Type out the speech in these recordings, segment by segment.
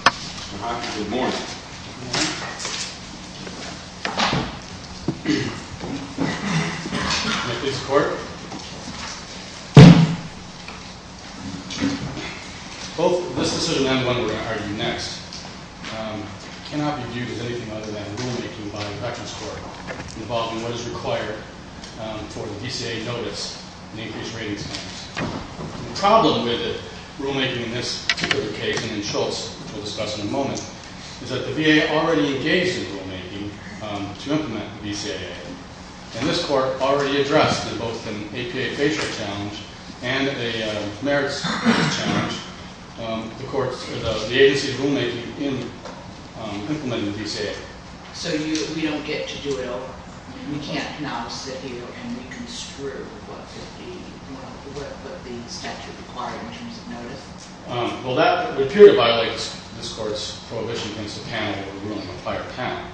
This decision and the one we're going to argue next cannot be viewed as anything other than rulemaking by the Veterans Court involving what is required for the DCA notice in the increased ratings plan. The problem with rulemaking in this particular case, and Schultz will discuss in a moment, is that the VA already engaged in rulemaking to implement the DCA. And this court already addressed both an APA facial challenge and a merits challenge. The agency's rulemaking in implementing the DCA. So we don't get to do it all. We can't now sit here and we can screw what the statute required in terms of notice? Well, that would appear to violate this court's prohibition against the panel, the rule in the prior panel.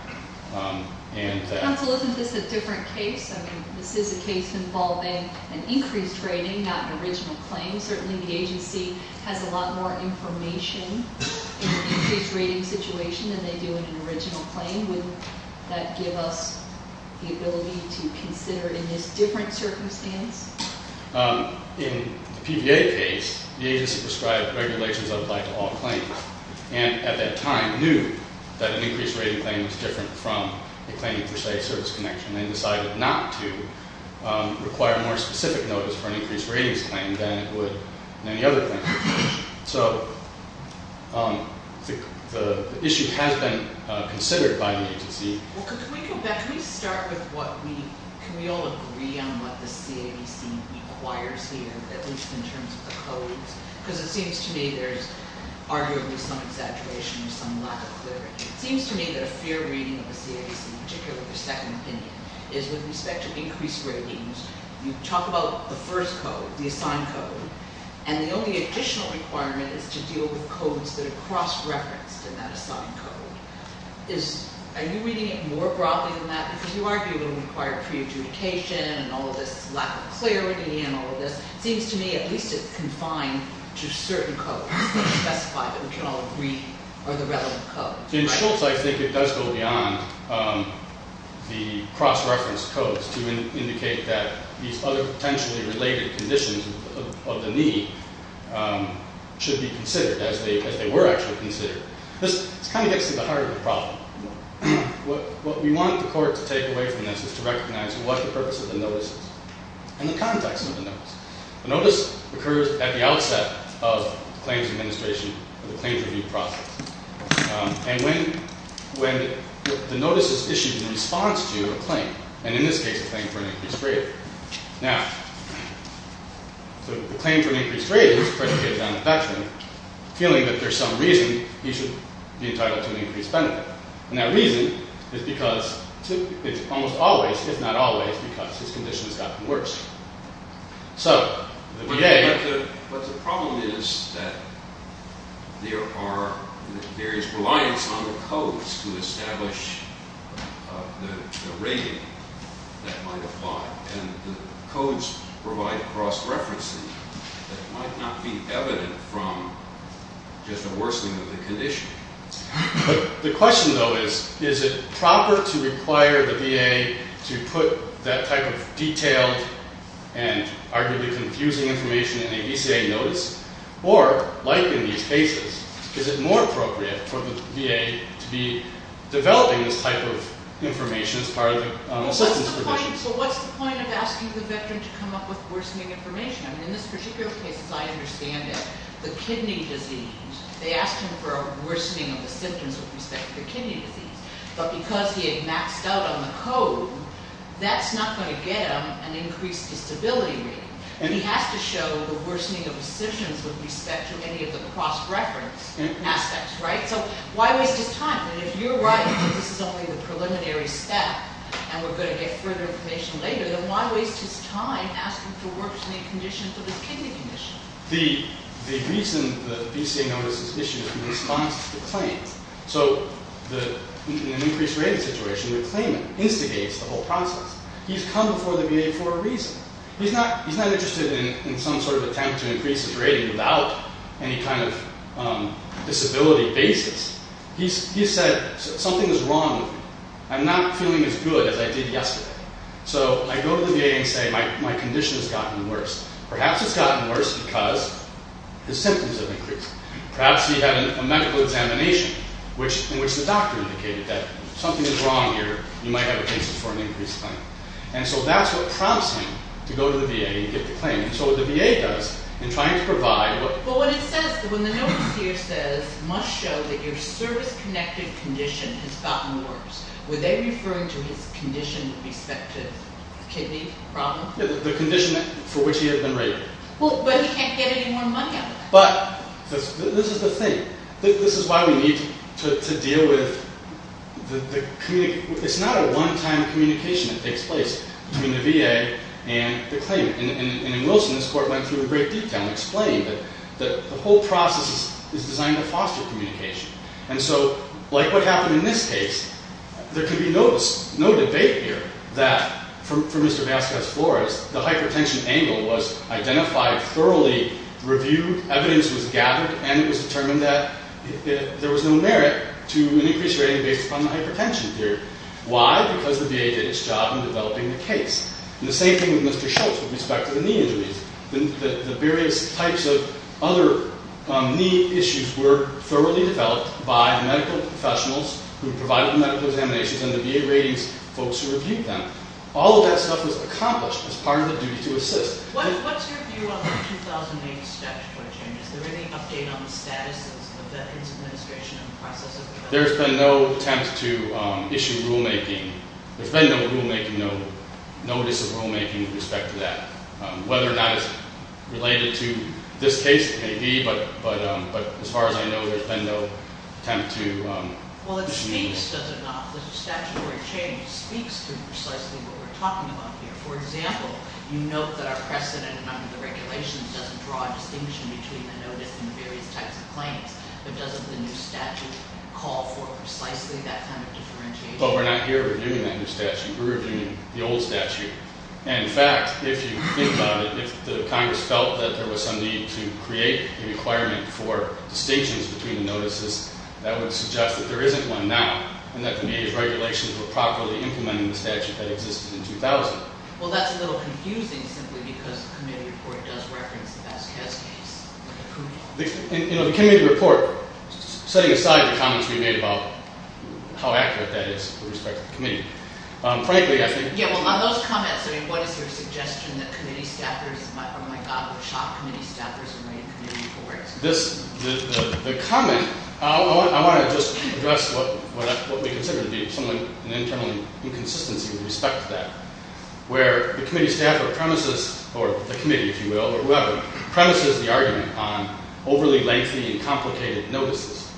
Counsel, isn't this a different case? I mean, this is a case involving an increased rating, not an original claim. Certainly the agency has a lot more information in an increased rating situation than they do in an original claim. Would that give us the ability to consider in this different circumstance? In the PVA case, the agency prescribed regulations that apply to all claims. And at that time knew that an increased rating claim was different from a claim for, say, service connection. They decided not to require more specific notice for an increased ratings claim than it would in any other claim. So the issue has been considered by the agency. Well, can we go back? Can we start with what we, can we all agree on what the CADC requires here, at least in terms of the codes? Because it seems to me there's arguably some exaggeration or some lack of clarity. It seems to me that a fair reading of the CADC, in particular the second opinion, is with respect to increased ratings. You talk about the first code, the assigned code. And the only additional requirement is to deal with codes that are cross-referenced in that assigned code. Are you reading it more broadly than that? Because you argue it will require pre-adjudication and all of this lack of clarity and all of this. It seems to me at least it's confined to certain codes that we can specify that we can all agree are the relevant codes. In Schultz, I think it does go beyond the cross-reference codes to indicate that these other potentially related conditions of the need should be considered as they were actually considered. This kind of gets to the heart of the problem. What we want the court to take away from this is to recognize what the purpose of the notice is and the context of the notice. The notice occurs at the outset of the claims administration or the claims review process. And when the notice is issued in response to a claim, and in this case a claim for an increased rating. Now, the claim for an increased rating is to pressure the adjudicator on the facturing, feeling that there's some reason he should be entitled to an increased benefit. And that reason is because it's almost always, if not always, because his condition has gotten worse. But the problem is that there is reliance on the codes to establish the rating that might apply. And the codes provide cross-referencing that might not be evident from just a worsening of the condition. The question, though, is, is it proper to require the VA to put that type of detailed and arguably confusing information in a VCA notice? Or, like in these cases, is it more appropriate for the VA to be developing this type of information as part of an assistance provision? So what's the point of asking the veteran to come up with worsening information? I mean, in this particular case, as I understand it, the kidney disease, they asked him for a worsening of the symptoms with respect to the kidney disease. But because he had maxed out on the code, that's not going to get him an increased disability rating. And he has to show the worsening of the symptoms with respect to any of the cross-reference aspects, right? So why waste his time? And if you're right that this is only the preliminary step and we're going to get further information later, then why waste his time asking for worsening conditions of his kidney condition? The reason the VCA notice is issued is in response to the claim. So in an increased rating situation, the claimant instigates the whole process. He's come before the VA for a reason. He's not interested in some sort of attempt to increase his rating without any kind of disability basis. He said, something is wrong with me. I'm not feeling as good as I did yesterday. So I go to the VA and say, my condition has gotten worse. Perhaps it's gotten worse because his symptoms have increased. Perhaps he had a medical examination in which the doctor indicated that something is wrong here. You might have a case for an increased claim. And so that's what prompts him to go to the VA and get the claim. And so what the VA does in trying to provide... But when the notice here says, must show that your service-connected condition has gotten worse, were they referring to his condition with respect to kidney problems? The condition for which he had been rated. But he can't get any more money out of it. But this is the thing. This is why we need to deal with the... It's not a one-time communication that takes place between the VA and the claimant. In Wilson, this court went through in great detail and explained that the whole process is designed to foster communication. And so, like what happened in this case, there could be no debate here that, for Mr. Vasquez-Flores, the hypertension angle was identified thoroughly, reviewed, evidence was gathered, and it was determined that there was no merit to an increased rating based upon the hypertension theory. Why? Because the VA did its job in developing the case. And the same thing with Mr. Schultz with respect to the knee injuries. The various types of other knee issues were thoroughly developed by medical professionals who provided the medical examinations and the VA ratings folks who reviewed them. All of that stuff was accomplished as part of the duty to assist. What's your view on the 2008 statutory changes? Is there any update on the status of that administration and process of development? There's been no attempt to issue rulemaking. There's been no rulemaking, no notice of rulemaking with respect to that. Whether or not it's related to this case, it may be. But as far as I know, there's been no attempt to... Well, it speaks, does it not? The statutory change speaks to precisely what we're talking about here. For example, you note that our precedent under the regulations doesn't draw a distinction between the notice and the various types of claims. But doesn't the new statute call for precisely that kind of differentiation? But we're not here reviewing that new statute. We're reviewing the old statute. And in fact, if you think about it, if the Congress felt that there was some need to create a requirement for distinctions between the notices, that would suggest that there isn't one now and that the VA's regulations were properly implementing the statute that existed in 2000. Well, that's a little confusing simply because the committee report does reference the Vasquez case. You know, the committee report, setting aside the comments we made about how accurate that is with respect to the committee. Frankly, I think... Yeah, well, on those comments, I mean, what is your suggestion that committee staffers... Oh, my God, we'll shock committee staffers and lay a committee report. The comment... I want to just address what we consider to be an internal inconsistency with respect to that, where the committee staffer premises, or the committee, if you will, or whoever, premises the argument on overly lengthy and complicated notices,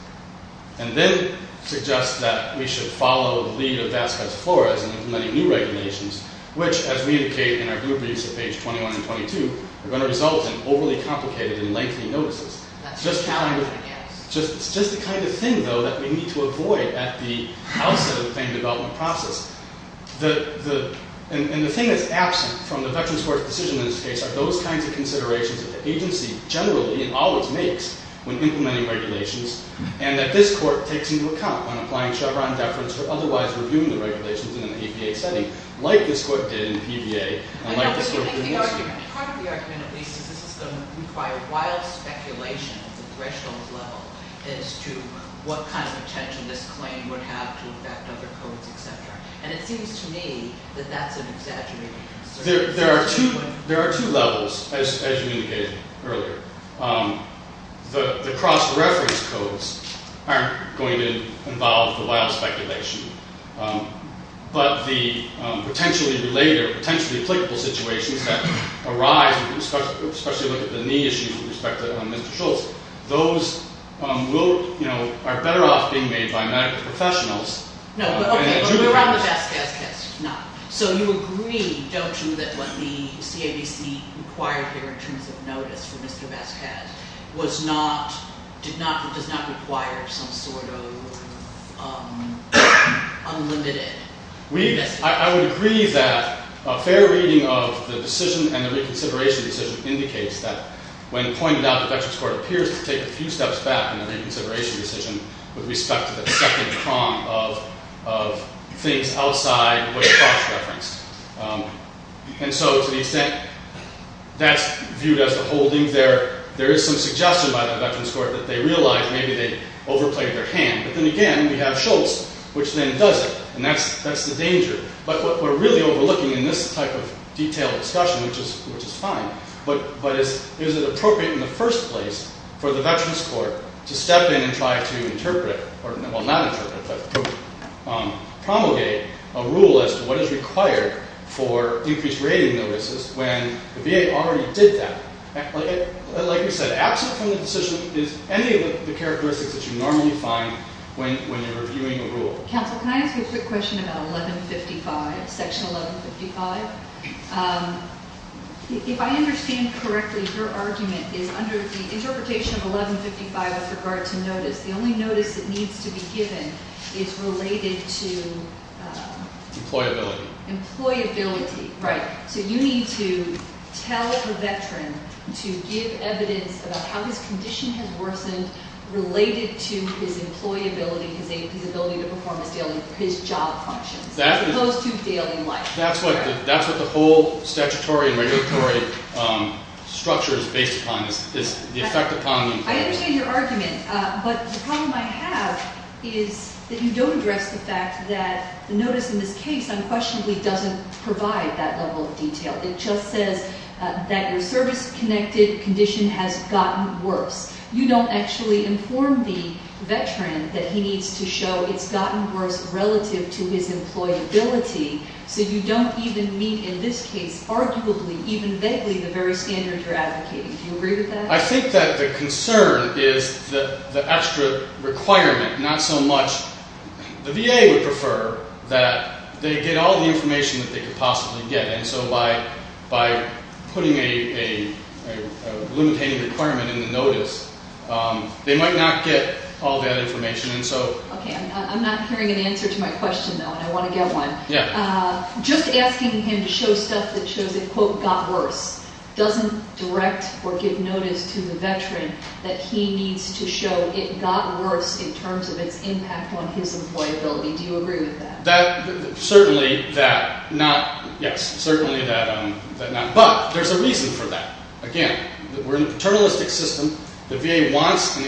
and then suggests that we should follow the lead of Vasquez-Flores in implementing new regulations, which, as we indicate in our group reviews at page 21 and 22, are going to result in overly complicated and lengthy notices. It's just the kind of thing, though, that we need to avoid at the outset of the claim development process. And the thing that's absent from the Veterans Court's decision in this case are those kinds of considerations that the agency generally and always makes when implementing regulations, and that this Court takes into account when applying Chevron deference or otherwise reviewing the regulations in an APA setting, like this Court did in PBA, and like this Court did in this case. Part of the argument, at least, is this is going to require wild speculation at the threshold level as to what kind of potential this claim would have to affect other codes, et cetera. And it seems to me that that's an exaggerated concern. There are two levels, as you indicated earlier. The cross-reference codes aren't going to involve the wild speculation, but the potentially related or potentially applicable situations that arise, especially when you look at the knee issues with respect to Mr. Schultz, those are better off being made by medical professionals. No, but around the Vasquez case, not. So you agree, don't you, that what the CABC required here in terms of notice for Mr. Vasquez does not require some sort of unlimited investigation? I would agree that a fair reading of the decision and the reconsideration decision indicates that when pointed out, the Veterans Court appears to take a few steps back in the reconsideration decision with respect to the second prong of things outside what is cross-referenced. And so to the extent that's viewed as the holding, there is some suggestion by the Veterans Court that they realize maybe they overplayed their hand. But then again, we have Schultz, which then does it, and that's the danger. But we're really overlooking in this type of detailed discussion, which is fine. But is it appropriate in the first place for the Veterans Court to step in and try to interpret, well, not interpret, but promulgate a rule as to what is required for increased rating notices when the VA already did that? Like we said, absent from the decision is any of the characteristics that you normally find when you're reviewing a rule. Counsel, can I ask you a quick question about 1155, Section 1155? If I understand correctly, your argument is under the interpretation of 1155 with regard to notice. The only notice that needs to be given is related to... Employability. Employability, right. So you need to tell a Veteran to give evidence about how his condition has worsened related to his employability, his ability to perform his job functions, as opposed to daily life. That's what the whole statutory and regulatory structure is based upon, is the effect upon employment. I understand your argument. But the problem I have is that you don't address the fact that the notice in this case unquestionably doesn't provide that level of detail. It just says that your service-connected condition has gotten worse. You don't actually inform the Veteran that he needs to show it's gotten worse relative to his employability, so you don't even meet, in this case, arguably, even vaguely, the very standard you're advocating. Do you agree with that? I think that the concern is the extra requirement, not so much... The VA would prefer that they get all the information that they could possibly get, and so by putting a limitating requirement in the notice, they might not get all that information, and so... Okay, I'm not hearing an answer to my question, though, and I want to get one. Yeah. Just asking him to show stuff that shows it, quote, got worse doesn't direct or give notice to the Veteran that he needs to show it got worse in terms of its impact on his employability. Do you agree with that? Certainly that not... Yes, certainly that not... But there's a reason for that. Again, we're in a paternalistic system. The VA wants to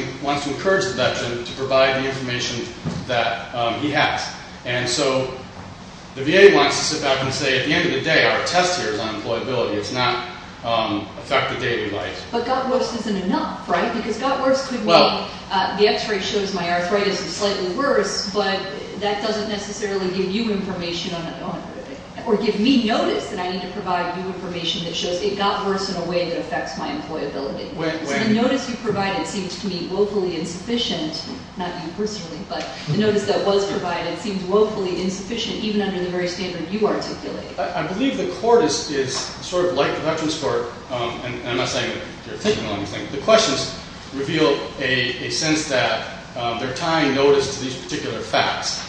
encourage the Veteran to provide the information that he has, and so the VA wants to sit back and say, at the end of the day, our test here is on employability. It's not affect the day-to-day life. But got worse isn't enough, right? Because got worse could mean the x-ray shows my arthritis is slightly worse, but that doesn't necessarily give you information on it, or give me notice that I need to provide you information that shows it got worse in a way that affects my employability. So the notice you provided seems to me woefully insufficient, not you personally, but the notice that was provided seems woefully insufficient, even under the very standard you articulate. I believe the Court is sort of like the Veterans Court, and I'm not saying that you're thinking the wrong thing. The questions reveal a sense that they're tying notice to these particular facts,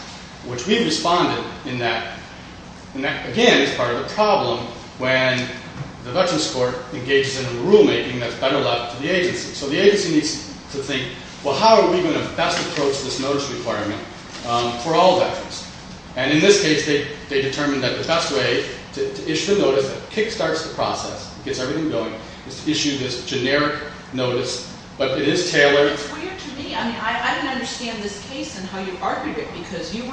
which we've responded in that, and that, again, is part of the problem when the Veterans Court engages in a rulemaking that's better left to the agency. So the agency needs to think, well, how are we going to best approach this notice requirement for all veterans? And in this case, they determined that the best way to issue the notice that kickstarts the process, gets everything going, is to issue this generic notice, but it is tailored. It's weird to me. I mean, I don't understand this case and how you argue it, because you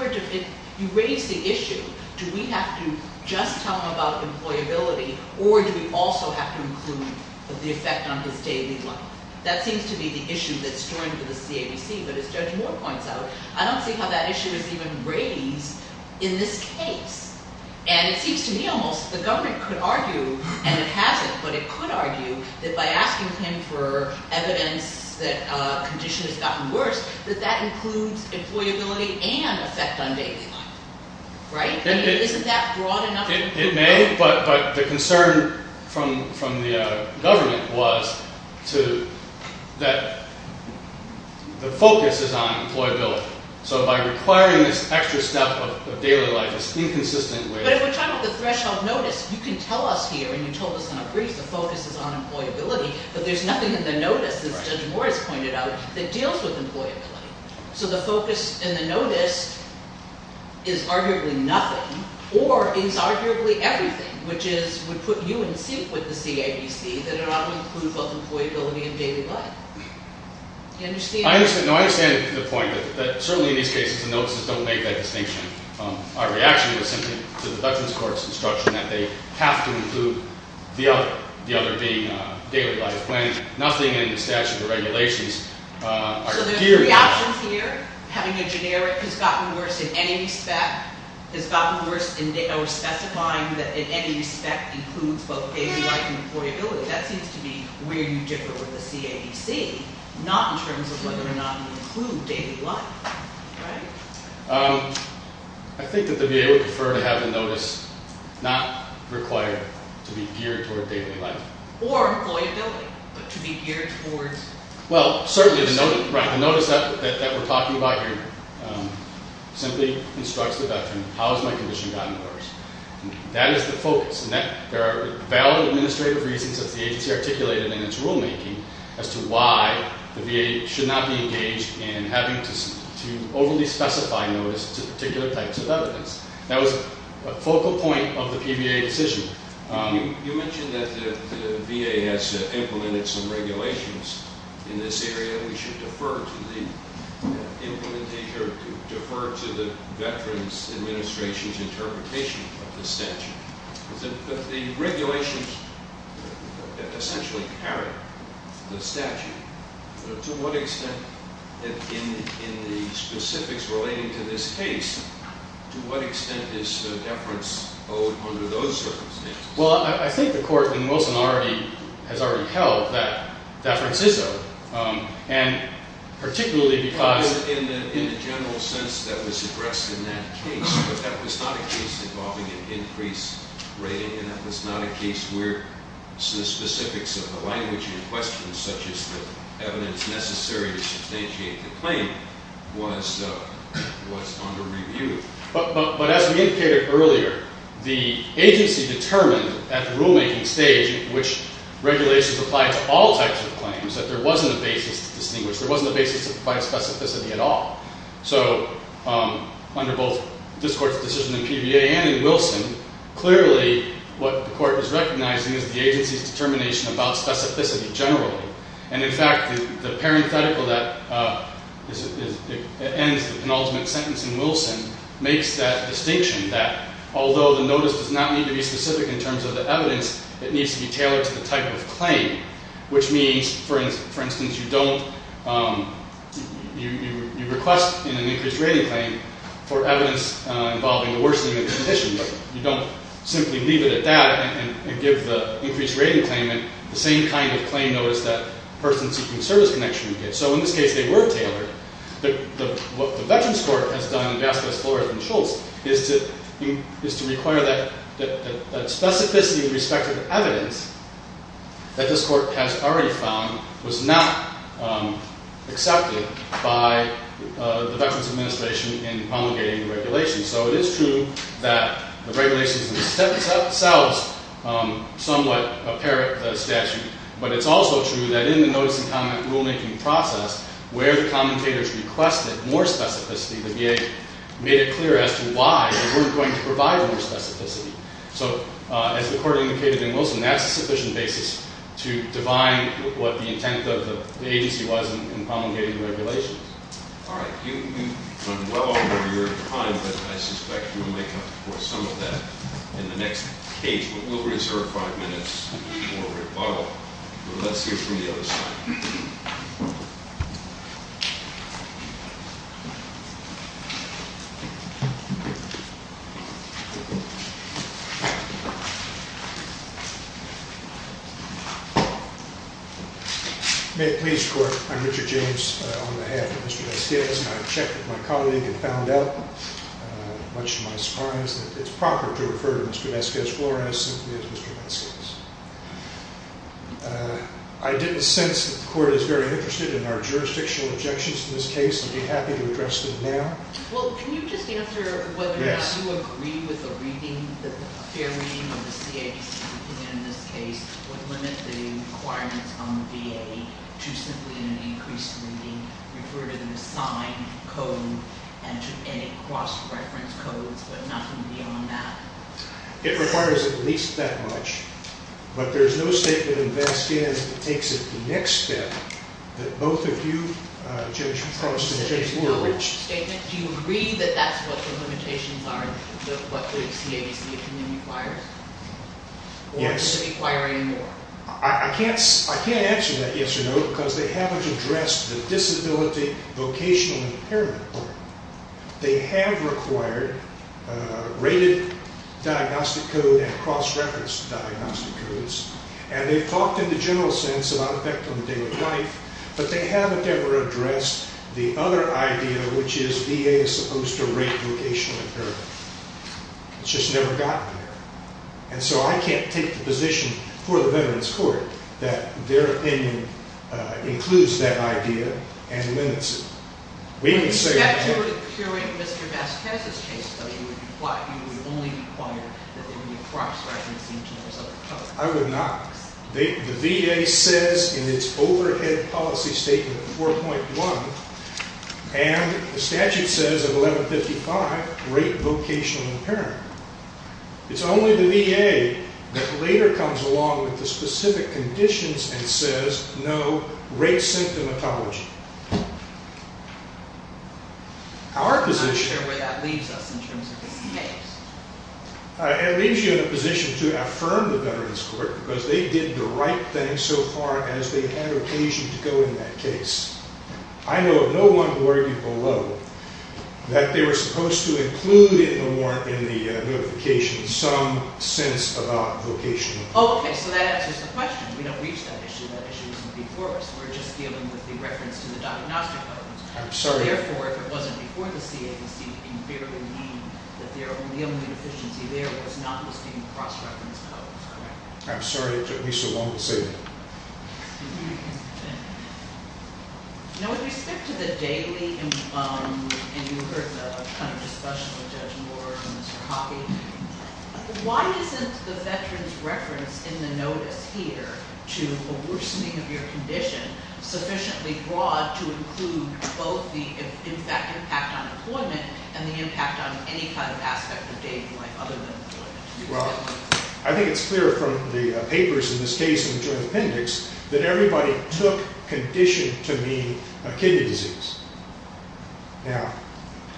raised the issue, do we have to just tell him about employability, or do we also have to include the effect on his daily life? That seems to be the issue that's thrown to the CABC, but as Judge Moore points out, I don't see how that issue is even raised in this case. And it seems to me almost the government could argue, and it hasn't, but it could argue, that by asking him for evidence that a condition has gotten worse, that that includes employability and effect on daily life, right? I mean, isn't that broad enough? It may, but the concern from the government was that the focus is on employability. So by requiring this extra step of daily life, it's inconsistent with the threshold notice. You can tell us here, and you told us in a brief, the focus is on employability, but there's nothing in the notice, as Judge Moore has pointed out, that deals with employability. So the focus in the notice is arguably nothing, or is arguably everything, which would put you in suit with the CABC that it ought to include both employability and daily life. Do you understand? I understand the point, that certainly in these cases the notices don't make that distinction. Our reaction is simply to the Dutchman's Court's instruction that they have to include the other, the other being daily life, when nothing in the statute or regulations are geared to that. So there's reactions here, having a generic has gotten worse in any respect, has gotten worse in specifying that in any respect includes both daily life and employability. That seems to be where you differ with the CABC, not in terms of whether or not you include daily life, right? I think that the VA would prefer to have the notice not required to be geared toward daily life. Or employability, but to be geared towards... Well, certainly the notice that we're talking about here simply instructs the veteran, how has my condition gotten worse? That is the focus, and there are valid administrative reasons, as the agency articulated in its rulemaking, as to why the VA should not be engaged in having to overly specify notice to particular types of evidence. That was a focal point of the PVA decision. You mentioned that the VA has implemented some regulations in this area. We should defer to the implementation or defer to the Veterans Administration's interpretation of the statute. But the regulations essentially carry the statute. To what extent, in the specifics relating to this case, to what extent is deference owed under those circumstances? Well, I think the Court in Wilson has already held that deference is owed, and particularly because... In the general sense that was addressed in that case, but that was not a case involving an increased rating, and that was not a case where the specifics of the language in question, such as the evidence necessary to substantiate the claim, was under review. But as we indicated earlier, the agency determined at the rulemaking stage, which regulations apply to all types of claims, that there wasn't a basis to distinguish, there wasn't a basis to provide specificity at all. So under both this Court's decision in PVA and in Wilson, clearly what the Court is recognizing is the agency's determination about specificity generally. And in fact, the parenthetical that ends the penultimate sentence in Wilson makes that distinction, that although the notice does not need to be specific in terms of the evidence, it needs to be tailored to the type of claim, which means, for instance, you request in an increased rating claim for evidence involving the worsening of the condition, but you don't simply leave it at that and give the increased rating claim the same kind of claim notice that a person seeking service connection would get. So in this case, they were tailored. But what the Veterans Court has done in Vasquez, Fuller, and Schultz is to require that specificity with respect to evidence that this Court has already found was not accepted by the Veterans Administration in promulgating the regulations. So it is true that the regulations themselves somewhat apparent statute, but it's also true that in the notice and comment rulemaking process, where the commentators requested more specificity, the VA made it clear as to why they weren't going to provide more specificity. So as the Court indicated in Wilson, that's a sufficient basis to define what the intent of the agency was in promulgating the regulations. All right. You run well over your time, but I suspect you'll make up for some of that in the next case. But we'll reserve five minutes for rebuttal. But let's hear from the other side. May it please the Court, I'm Richard James, on behalf of Mr. Vasquez, and I've checked with my colleague and found out, much to my surprise, that it's proper to refer to Mr. Vasquez, Flores, simply as Mr. Vasquez. I didn't sense that the Court is very interested in our jurisdictional objections to this case. I'd be happy to address them now. Well, can you just answer whether or not you agree with the reading, the fair reading of the CA's opinion in this case, would limit the requirements on the VA to simply in an increased reading refer to them as signed code and to any cross-reference codes, but nothing beyond that? It requires at least that much. But there's no statement in Vasquez that takes it to the next step that both of you, Judge Frost and Judge Moore, reached. There's no statement. Do you agree that that's what the limitations are, what the CA's opinion requires? Yes. Or does it require any more? I can't answer that yes or no because they haven't addressed the disability vocational impairment part. They have required rated diagnostic code and cross-reference diagnostic codes, and they've talked in the general sense about effect on the day of life, but they haven't ever addressed the other idea, which is VA is supposed to rate vocational impairment. It's just never gotten there. And so I can't take the position for the Veterans Court that their opinion includes that idea and limits it. If that's your hearing, Mr. Vasquez's case study, you would only require that there be cross-referencing to those other codes. I would not. The VA says in its overhead policy statement 4.1, and the statute says in 1155, rate vocational impairment. It's only the VA that later comes along with the specific conditions and says, no, rate symptomatology. I'm not sure where that leaves us in terms of this case. It leaves you in a position to affirm the Veterans Court, because they did the right thing so far as they had occasion to go in that case. I know of no one who argued below that they were supposed to include in the notification some sense about vocational impairment. Okay, so that answers the question. We don't reach that issue. That issue isn't before us. We're just dealing with the reference to the diagnostic code. I'm sorry. Therefore, if it wasn't before the CAC, it would invariably mean that the only deficiency there was not the same cross-reference code. I'm sorry it took me so long to say that. Now, with respect to the daily, and you heard the kind of discussion with Judge Moore and Mr. Hockey, why isn't the veterans' reference in the notice here to a worsening of your condition sufficiently broad to include both that impact on employment and the impact on any kind of aspect of day-to-night other than employment? Well, I think it's clear from the papers in this case in the Joint Appendix that everybody took condition to mean a kidney disease. Now,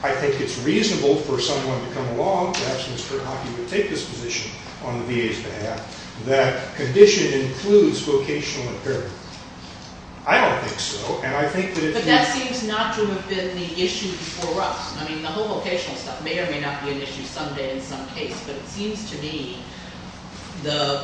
I think it's reasonable for someone to come along, perhaps Mr. Hockey would take this position on the VA's behalf, that condition includes vocational impairment. I don't think so. But that seems not to have been the issue before us. I mean, the whole vocational stuff may or may not be an issue someday in some case, but it seems to me the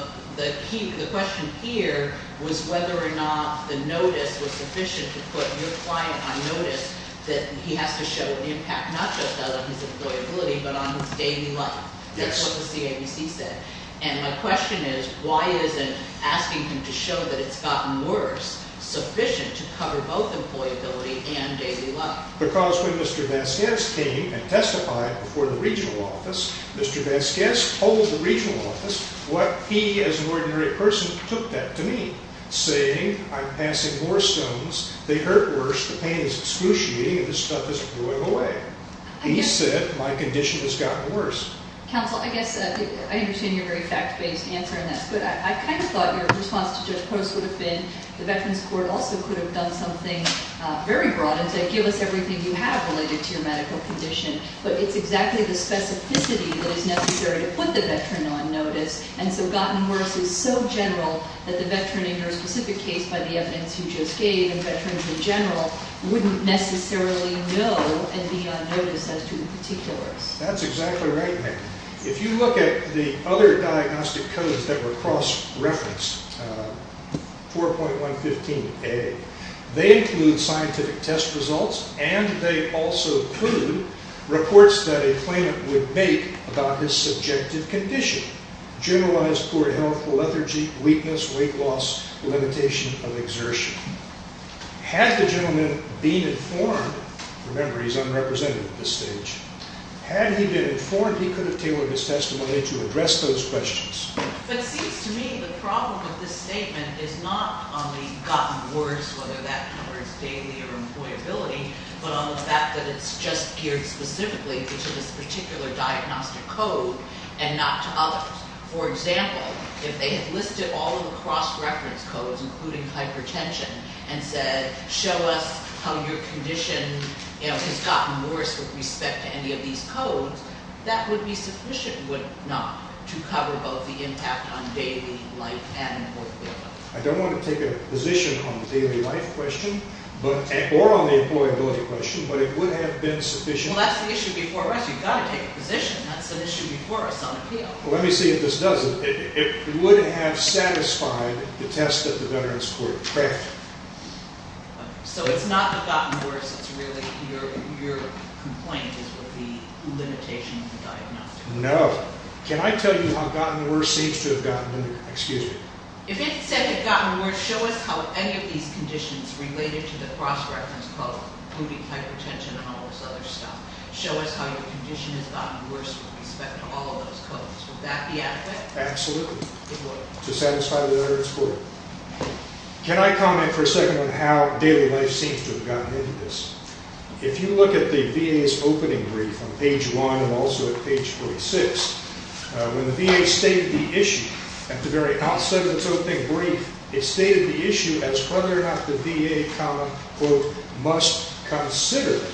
question here was whether or not the notice was sufficient to put your client on notice that he has to show an impact not just on his employability but on his daily life. That's what the CAC said. And my question is why isn't asking him to show that it's gotten worse sufficient to cover both employability and daily life? Because when Mr. Vasquez came and testified before the regional office, Mr. Vasquez told the regional office what he as an ordinary person took that to mean, saying I'm passing more stones, they hurt worse, the pain is excruciating, and this stuff is flowing away. He said my condition has gotten worse. Counsel, I guess I understand your very fact-based answer, and that's good. I kind of thought your response to Judge Post would have been the Veterans Court also could have done something very broad and said give us everything you have related to your medical condition. But it's exactly the specificity that is necessary to put the veteran on notice, and so gotten worse is so general that the veteran in your specific case by the evidence you just gave and veterans in general wouldn't necessarily know and be on notice as to the particulars. That's exactly right. If you look at the other diagnostic codes that were cross-referenced, 4.115A, they include scientific test results and they also include reports that a claimant would make about his subjective condition, generalized poor health, lethargy, weakness, weight loss, limitation of exertion. Had the gentleman been informed, remember he's unrepresented at this stage, had he been informed he could have tailored his testimony to address those questions. But it seems to me the problem with this statement is not on the gotten worse, whether that covers daily or employability, but on the fact that it's just geared specifically to this particular diagnostic code and not to others. For example, if they had listed all of the cross-reference codes, including hypertension, and said show us how your condition has gotten worse with respect to any of these codes, that would be sufficient, would it not, to cover both the impact on daily life and employability? I don't want to take a position on the daily life question or on the employability question, but it would have been sufficient. Well, that's the issue before us. You've got to take a position. That's an issue before us on appeal. Let me see if this does it. It wouldn't have satisfied the test that the Veterans Court tracked. So it's not the gotten worse, it's really your complaint is with the limitation of the diagnostic code. No. Can I tell you how gotten worse seems to have gotten, excuse me. If it said the gotten worse, show us how any of these conditions related to the cross-reference code, including hypertension and all this other stuff, show us how your condition has gotten worse with respect to all of those codes, would that be adequate? Absolutely. It would. To satisfy the Veterans Court. Can I comment for a second on how daily life seems to have gotten into this? If you look at the VA's opening brief on page 1 and also at page 46, when the VA stated the issue at the very outset of its opening brief, it stated the issue as whether or not the VA, quote, must consider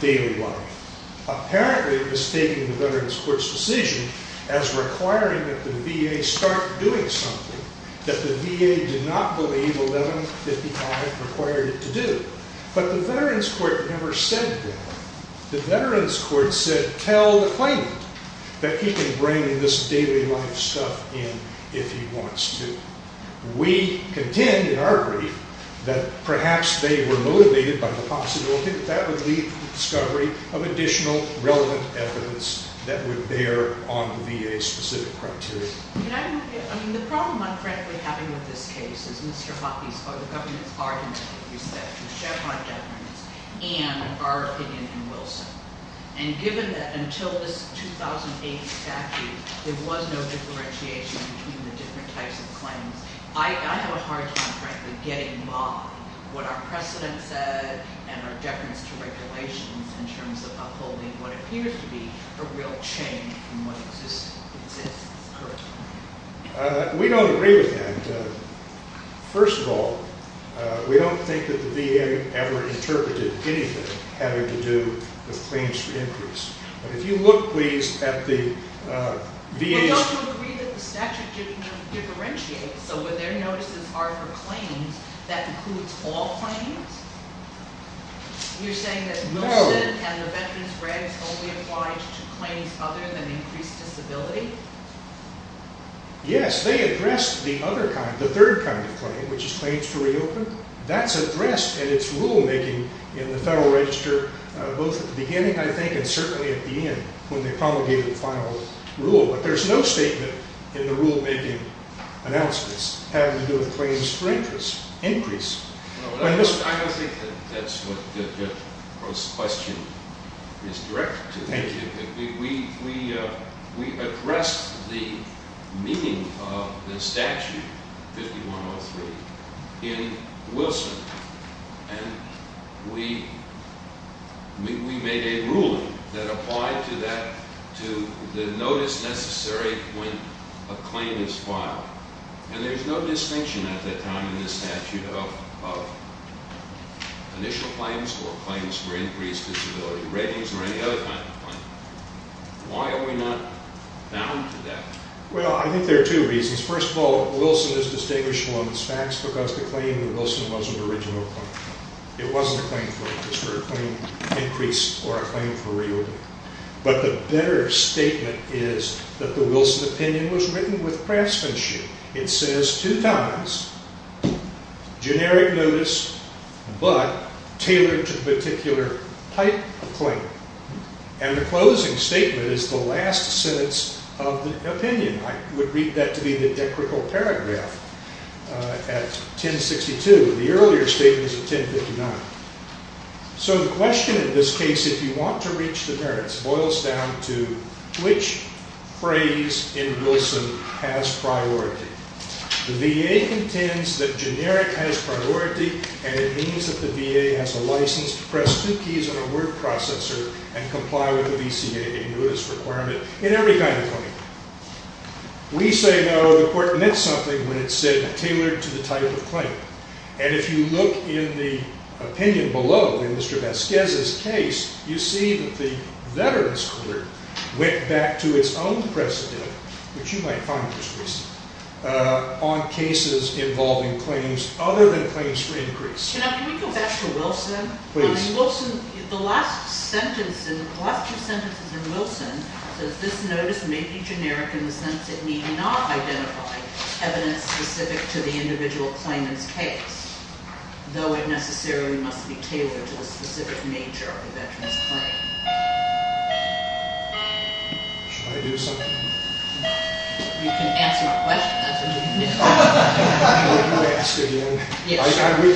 daily life, apparently mistaking the Veterans Court's decision as requiring that the VA start doing something that the VA did not believe 1155 required it to do. But the Veterans Court never said that. The Veterans Court said tell the claimant that he can bring this daily life stuff in if he wants to. We contend in our brief that perhaps they were motivated by the possibility that that would lead to the discovery of additional relevant evidence that would bear on the VA's specific criteria. I mean, the problem I'm frankly having with this case is Mr. Hoppe's, or the government's argument with respect to Chevron documents and our opinion in Wilson. And given that until this 2008 statute there was no differentiation between the different types of claims, I have a hard time frankly getting by what our precedent said and our deference to regulations in terms of upholding what appears to be a real change from what exists currently. We don't agree with that. First of all, we don't think that the VA ever interpreted anything having to do with claims for increase. But if you look, please, at the VA's- We don't agree that the statute differentiates. So when their notices are for claims, that includes all claims? You're saying that Wilson and the Veterans Regs only applied to claims other than increased disability? Yes, they addressed the other kind, the third kind of claim, which is claims to reopen. That's addressed in its rulemaking in the Federal Register both at the beginning, I think, and certainly at the end when they promulgated the final rule. But there's no statement in the rulemaking announcements having to do with claims for increase. I don't think that that's what the question is directed to. We addressed the meaning of the statute 5103 in Wilson, and we made a ruling that applied to the notice necessary when a claim is filed. And there's no distinction at that time in the statute of initial claims or claims for increased disability, ratings, or any other kind of claim. Why are we not bound to that? Well, I think there are two reasons. First of all, Wilson is distinguishable in its facts because the claim in Wilson was an original claim. It wasn't a claim for increased or a claim for reopening. But the better statement is that the Wilson opinion was written with craftsmanship. It says two times, generic notice, but tailored to the particular type of claim. And the closing statement is the last sentence of the opinion. I would read that to be the decrical paragraph at 1062. The earlier statement is at 1059. So the question in this case, if you want to reach the merits, boils down to which phrase in Wilson has priority. The VA contends that generic has priority, and it means that the VA has a license to press two keys on a word processor and comply with the VCA, a notice requirement, in every kind of claim. We say, no, the court meant something when it said tailored to the type of claim. And if you look in the opinion below, in Mr. Vasquez's case, you see that the veterans' court went back to its own precedent, which you might find just recent, on cases involving claims other than claims for increase. Can we go back to Wilson? Please. In Wilson, the last sentence, the last two sentences in Wilson, says this notice may be generic in the sense that we do not identify evidence specific to the individual claimant's case, though it necessarily must be tailored to the specific nature of the veteran's claim. Should I do something? You can answer my question. That's what you can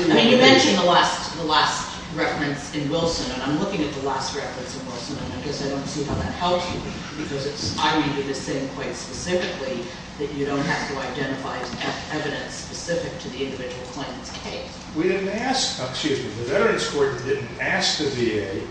do. You mentioned the last reference in Wilson, and I'm looking at the last reference in Wilson, and I guess I don't see how that helps you, because I read it as saying quite specifically that you don't have to identify evidence specific to the individual claimant's case. We didn't ask, excuse me, the veterans' court didn't ask the VA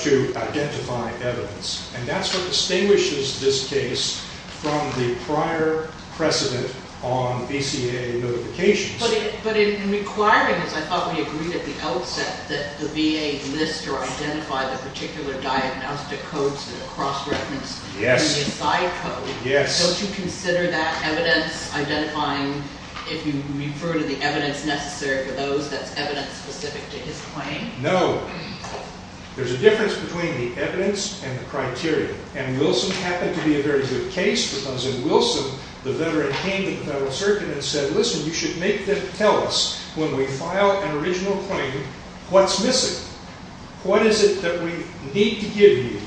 to identify evidence, and that's what distinguishes this case from the prior precedent on VCA notifications. But in requiring this, I thought we agreed at the outset that the VA list or identify the particular diagnostic codes that are cross-referenced in the aside code. Yes. Don't you consider that evidence identifying, if you refer to the evidence necessary for those, that's evidence specific to his claim? No. There's a difference between the evidence and the criteria, and Wilson happened to be a very good case because in Wilson, the veteran came to the Federal Circuit and said, listen, you should make them tell us when we file an original claim what's missing. What is it that we need to give you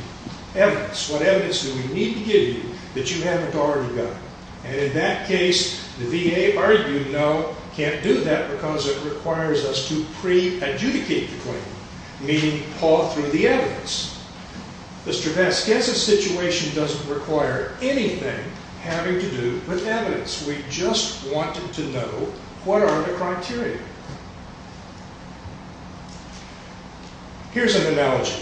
evidence? What evidence do we need to give you that you haven't already got? And in that case, the VA argued, no, can't do that because it requires us to pre-adjudicate the claim, meaning paw through the evidence. Mr. Vest, guess a situation doesn't require anything having to do with evidence. We just wanted to know what are the criteria. Here's an analogy.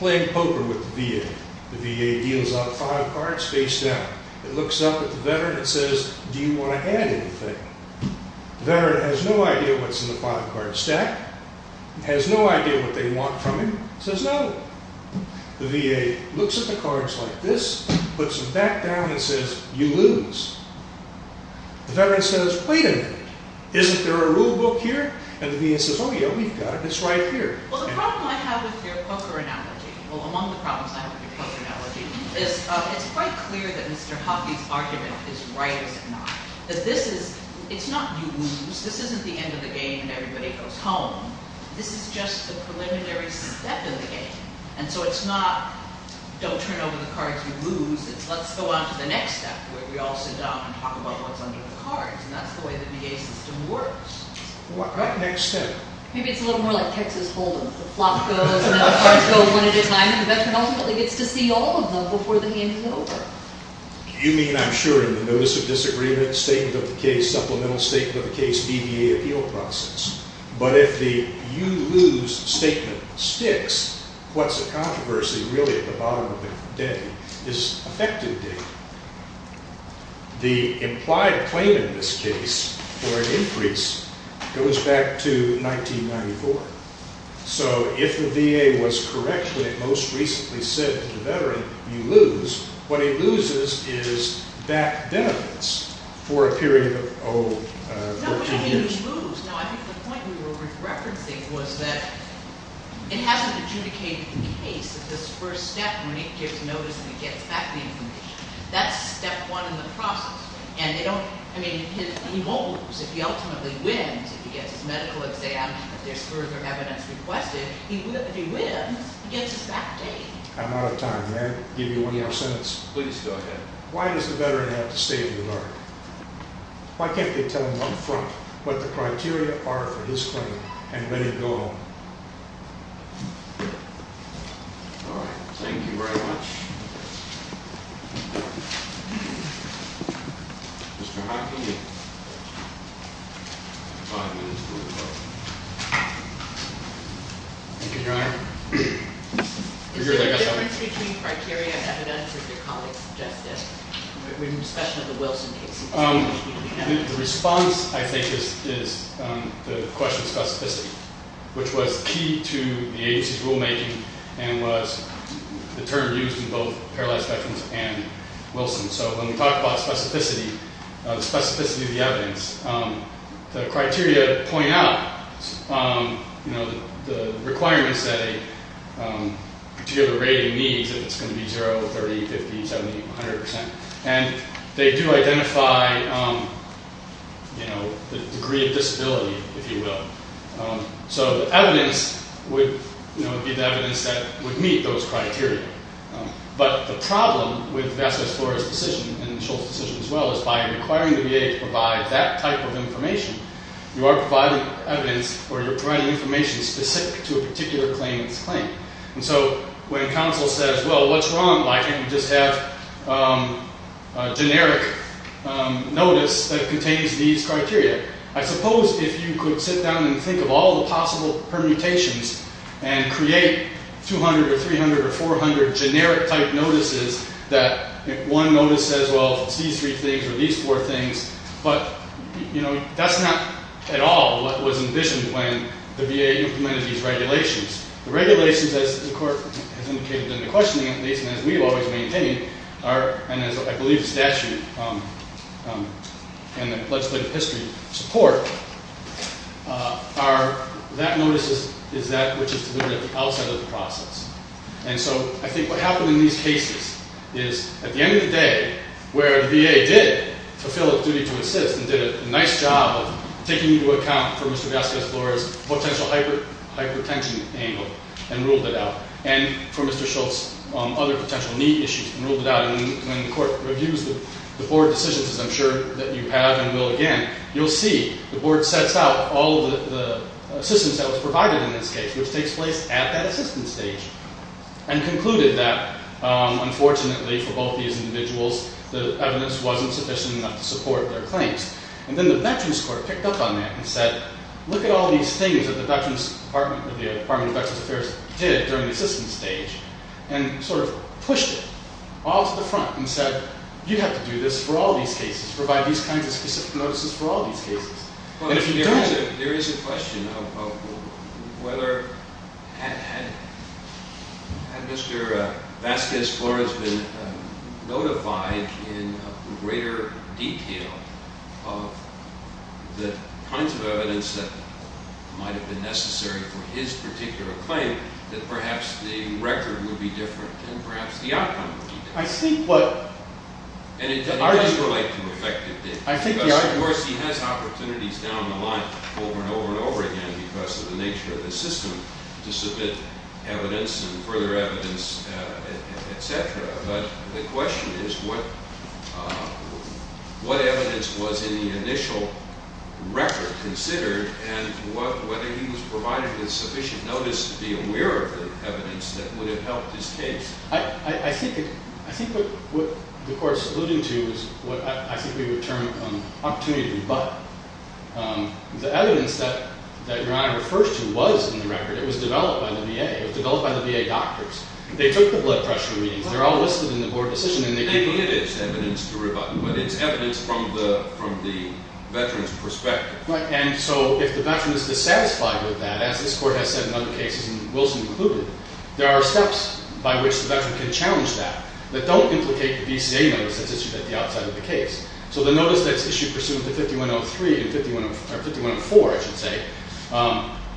Playing poker with the VA. The VA deals out five cards face down. It looks up at the veteran and says, do you want to add anything? The veteran has no idea what's in the five-card stack, has no idea what they want from him, says no. The VA looks at the cards like this, puts them back down, and says, you lose. The veteran says, wait a minute, isn't there a rule book here? And the VA says, oh, yeah, we've got it. It's right here. Well, the problem I have with your poker analogy, well, among the problems I have with your poker analogy, is it's quite clear that Mr. Huffey's argument is right, is it not, that this is, it's not you lose. This isn't the end of the game and everybody goes home. This is just the preliminary step in the game. And so it's not don't turn over the cards you lose. It's let's go on to the next step where we all sit down and talk about what's under the cards. And that's the way the VA system works. What next step? Maybe it's a little more like Texas Hold'em. The flop goes and the cards go one at a time and the veteran ultimately gets to see all of them before the game is over. You mean, I'm sure, in the notice of disagreement, statement of the case, supplemental statement of the case, BVA appeal process. But if the you lose statement sticks, what's the controversy really at the bottom of the day is effective date. The implied claim in this case for an increase goes back to 1994. So if the VA was correct when it most recently said to the veteran, you lose, what he loses is that benefits for a period of, oh, 14 years. No, I think the point we were referencing was that it hasn't adjudicated the case that this first step when it gives notice and it gets back the information. That's step one in the process. And they don't, I mean, he won't lose. If he ultimately wins, if he gets his medical exam, if there's further evidence requested, if he wins, he gets his back date. I'm out of time. May I give you one more sentence? Please go ahead. Why does the veteran have to stay in the room? Why can't they tell him up front what the criteria are for his claim and let it go on? All right. Thank you very much. Mr. Hockney, you have five minutes for your question. Thank you, Your Honor. Is there a difference between criteria and evidence, as your colleague suggested? With respect to the Wilson case. The response, I think, is the question of specificity, which was key to the agency's rulemaking and was the term used in both Paralyzed Veterans and Wilson. So when we talk about specificity, the specificity of the evidence, the criteria point out the requirements that a particular rating needs, if it's going to be 0, 30, 50, 70, 100 percent. And they do identify the degree of disability, if you will. So the evidence would be the evidence that would meet those criteria. But the problem with Vasquez-Flores' decision and Schultz' decision as well is by requiring the VA to provide that type of information, you are providing evidence or you're providing information specific to a particular claim in this claim. And so when counsel says, well, what's wrong? Why can't we just have a generic notice that contains these criteria? I suppose if you could sit down and think of all the possible permutations and create 200 or 300 or 400 generic-type notices that one notice says, well, it's these three things or these four things. But that's not at all what was envisioned when the VA implemented these regulations. The regulations, as the court has indicated in the questioning at least, and as we've always maintained, and as I believe the statute and the legislative history support, that notice is that which is delimited outside of the process. And so I think what happened in these cases is at the end of the day, where the VA did fulfill its duty to assist and did a nice job of taking into account for Mr. Vasquez-Flores' potential hypertension angle and ruled it out, and for Mr. Schultz, other potential need issues and ruled it out. And when the court reviews the board decisions, as I'm sure that you have and will again, you'll see the board sets out all of the assistance that was provided in this case, which takes place at that assistance stage, and concluded that, unfortunately for both these individuals, the evidence wasn't sufficient enough to support their claims. And then the Veterans Court picked up on that and said, look at all these things that the Department of Veterans Affairs did during the assistance stage, and sort of pushed it all to the front and said, you have to do this for all these cases, provide these kinds of specific notices for all these cases. There is a question of whether, had Mr. Vasquez-Flores been notified in greater detail of the kinds of evidence that might have been necessary for his particular claim, that perhaps the record would be different and perhaps the outcome would be different. And it does relate to effective dates. Of course, he has opportunities down the line over and over and over again because of the nature of the system to submit evidence and further evidence, etc. But the question is what evidence was in the initial record considered and whether he was provided with sufficient notice to be aware of the evidence that would have helped his case. I think what the Court is alluding to is what I think we would term opportunity to rebut. The evidence that Your Honor refers to was in the record. It was developed by the VA. It was developed by the VA doctors. They took the blood pressure readings. They're all listed in the board decision. They needed evidence to rebut. But it's evidence from the veteran's perspective. Right. And so if the veteran is dissatisfied with that, as this Court has said in other cases, and Wilson included, there are steps by which the veteran can challenge that, that don't implicate the VCA notice that's issued at the outside of the case. So the notice that's issued pursuant to 5103 and 5104, I should say,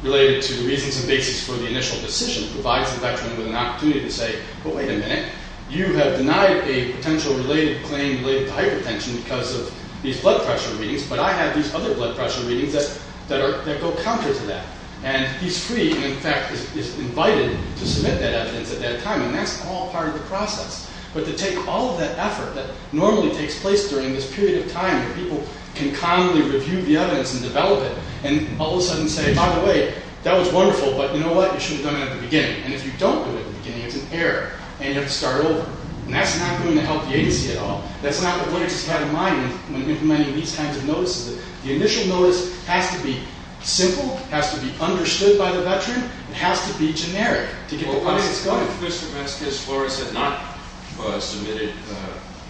related to the reasons and basics for the initial decision provides the veteran with an opportunity to say, well, wait a minute, you have denied a potential claim related to hypertension because of these blood pressure readings, but I have these other blood pressure readings that go counter to that. And he's free and, in fact, is invited to submit that evidence at that time. And that's all part of the process. But to take all of that effort that normally takes place during this period of time where people can calmly review the evidence and develop it and all of a sudden say, by the way, that was wonderful, but you know what, you should have done it at the beginning. And if you don't do it at the beginning, it's an error, and you have to start over. And that's not going to help the agency at all. That's not what witnesses have in mind when implementing these kinds of notices. The initial notice has to be simple, has to be understood by the veteran, and has to be generic to get the process going. Mr. Vasquez-Flores had not submitted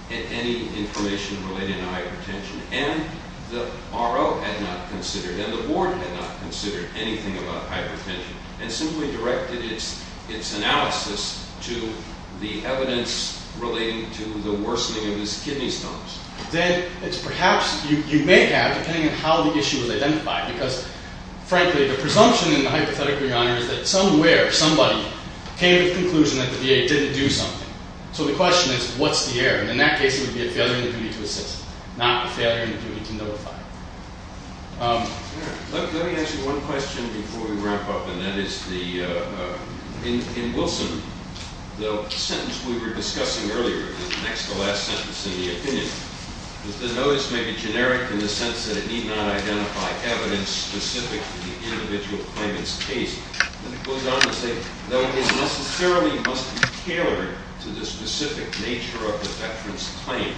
any information related to hypertension, and the RO had not considered, and the board had not considered anything about hypertension and simply directed its analysis to the evidence relating to the worsening of his kidney stones. Then it's perhaps you may have, depending on how the issue is identified, because frankly, the presumption in the hypothetical, Your Honor, is that somewhere, somebody came to the conclusion that the VA didn't do something. So the question is, what's the error? And in that case, it would be a failure in the duty to assist, not a failure in the duty to notify. Let me ask you one question before we wrap up, and that is in Wilson, the sentence we were discussing earlier connects to the last sentence in the opinion. The notice may be generic in the sense that it need not identify evidence specific to the individual claimant's case. Then it goes on to say that it necessarily must be tailored to the specific nature of the veteran's claim.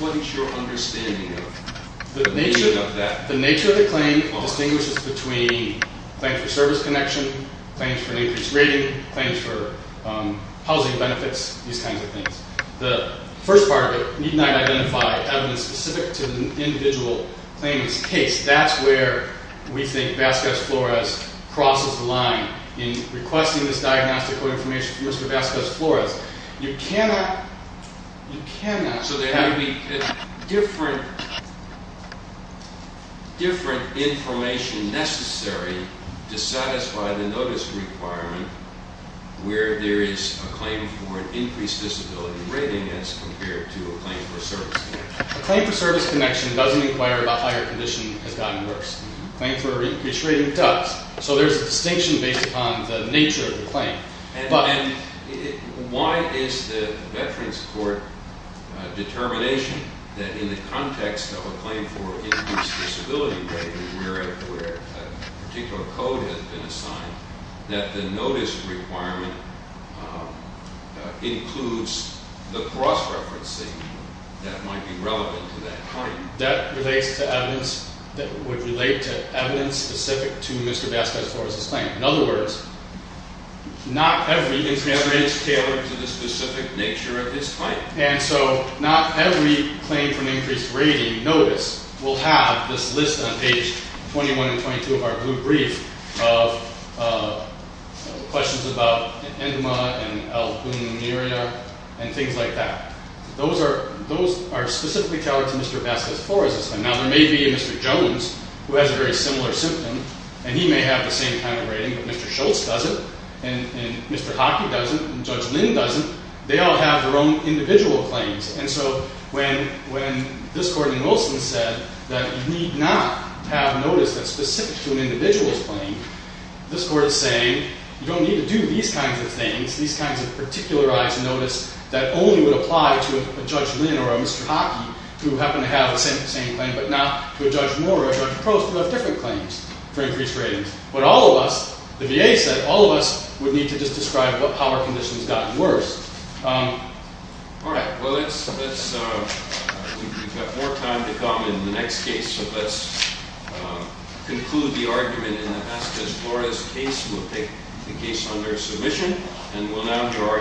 What is your understanding of that? The nature of the claim distinguishes between claims for service connection, claims for an increased rating, claims for housing benefits, these kinds of things. The first part of it, need not identify evidence specific to the individual claimant's case, that's where we think Vasquez-Flores crosses the line. In requesting this diagnostic code information from Mr. Vasquez-Flores, you cannot, you cannot, so there has to be different information necessary to satisfy the notice requirement where there is a claim for an increased disability rating as compared to a claim for service connection. A claim for service connection doesn't require the higher condition has gotten worse. A claim for an increased rating does. So there's a distinction based upon the nature of the claim. Why is the veteran's court determination that in the context of a claim for an increased disability rating where a particular code has been assigned, that the notice requirement includes the cross-referencing that might be relevant to that claim? That relates to evidence that would relate to evidence specific to Mr. Vasquez-Flores' claim. In other words, not every incident is tailored to the specific nature of his claim. And so not every claim for an increased rating notice will have this list on page 21 and 22 of our blue brief of questions about enema and albuminuria and things like that. Those are specifically tailored to Mr. Vasquez-Flores' claim. Now, there may be a Mr. Jones who has a very similar symptom, and he may have the same kind of rating, but Mr. Schultz doesn't, and Mr. Hockey doesn't, and Judge Lynn doesn't. They all have their own individual claims. And so when this court in Wilson said that you need not have notice that's specific to an individual's claim, this court is saying you don't need to do these kinds of things, these kinds of particularized notice that only would apply to a Judge Lynn or a Mr. Hockey who happen to have the same claim, but not to a Judge Moore or a Judge Post who have different claims for increased ratings. But all of us, the VA said, all of us would need to just describe what power condition has gotten worse. All right. Well, we've got more time to come in the next case, so let's conclude the argument in the Vasquez-Flores case. We'll take the case under submission, and we'll now have your argument.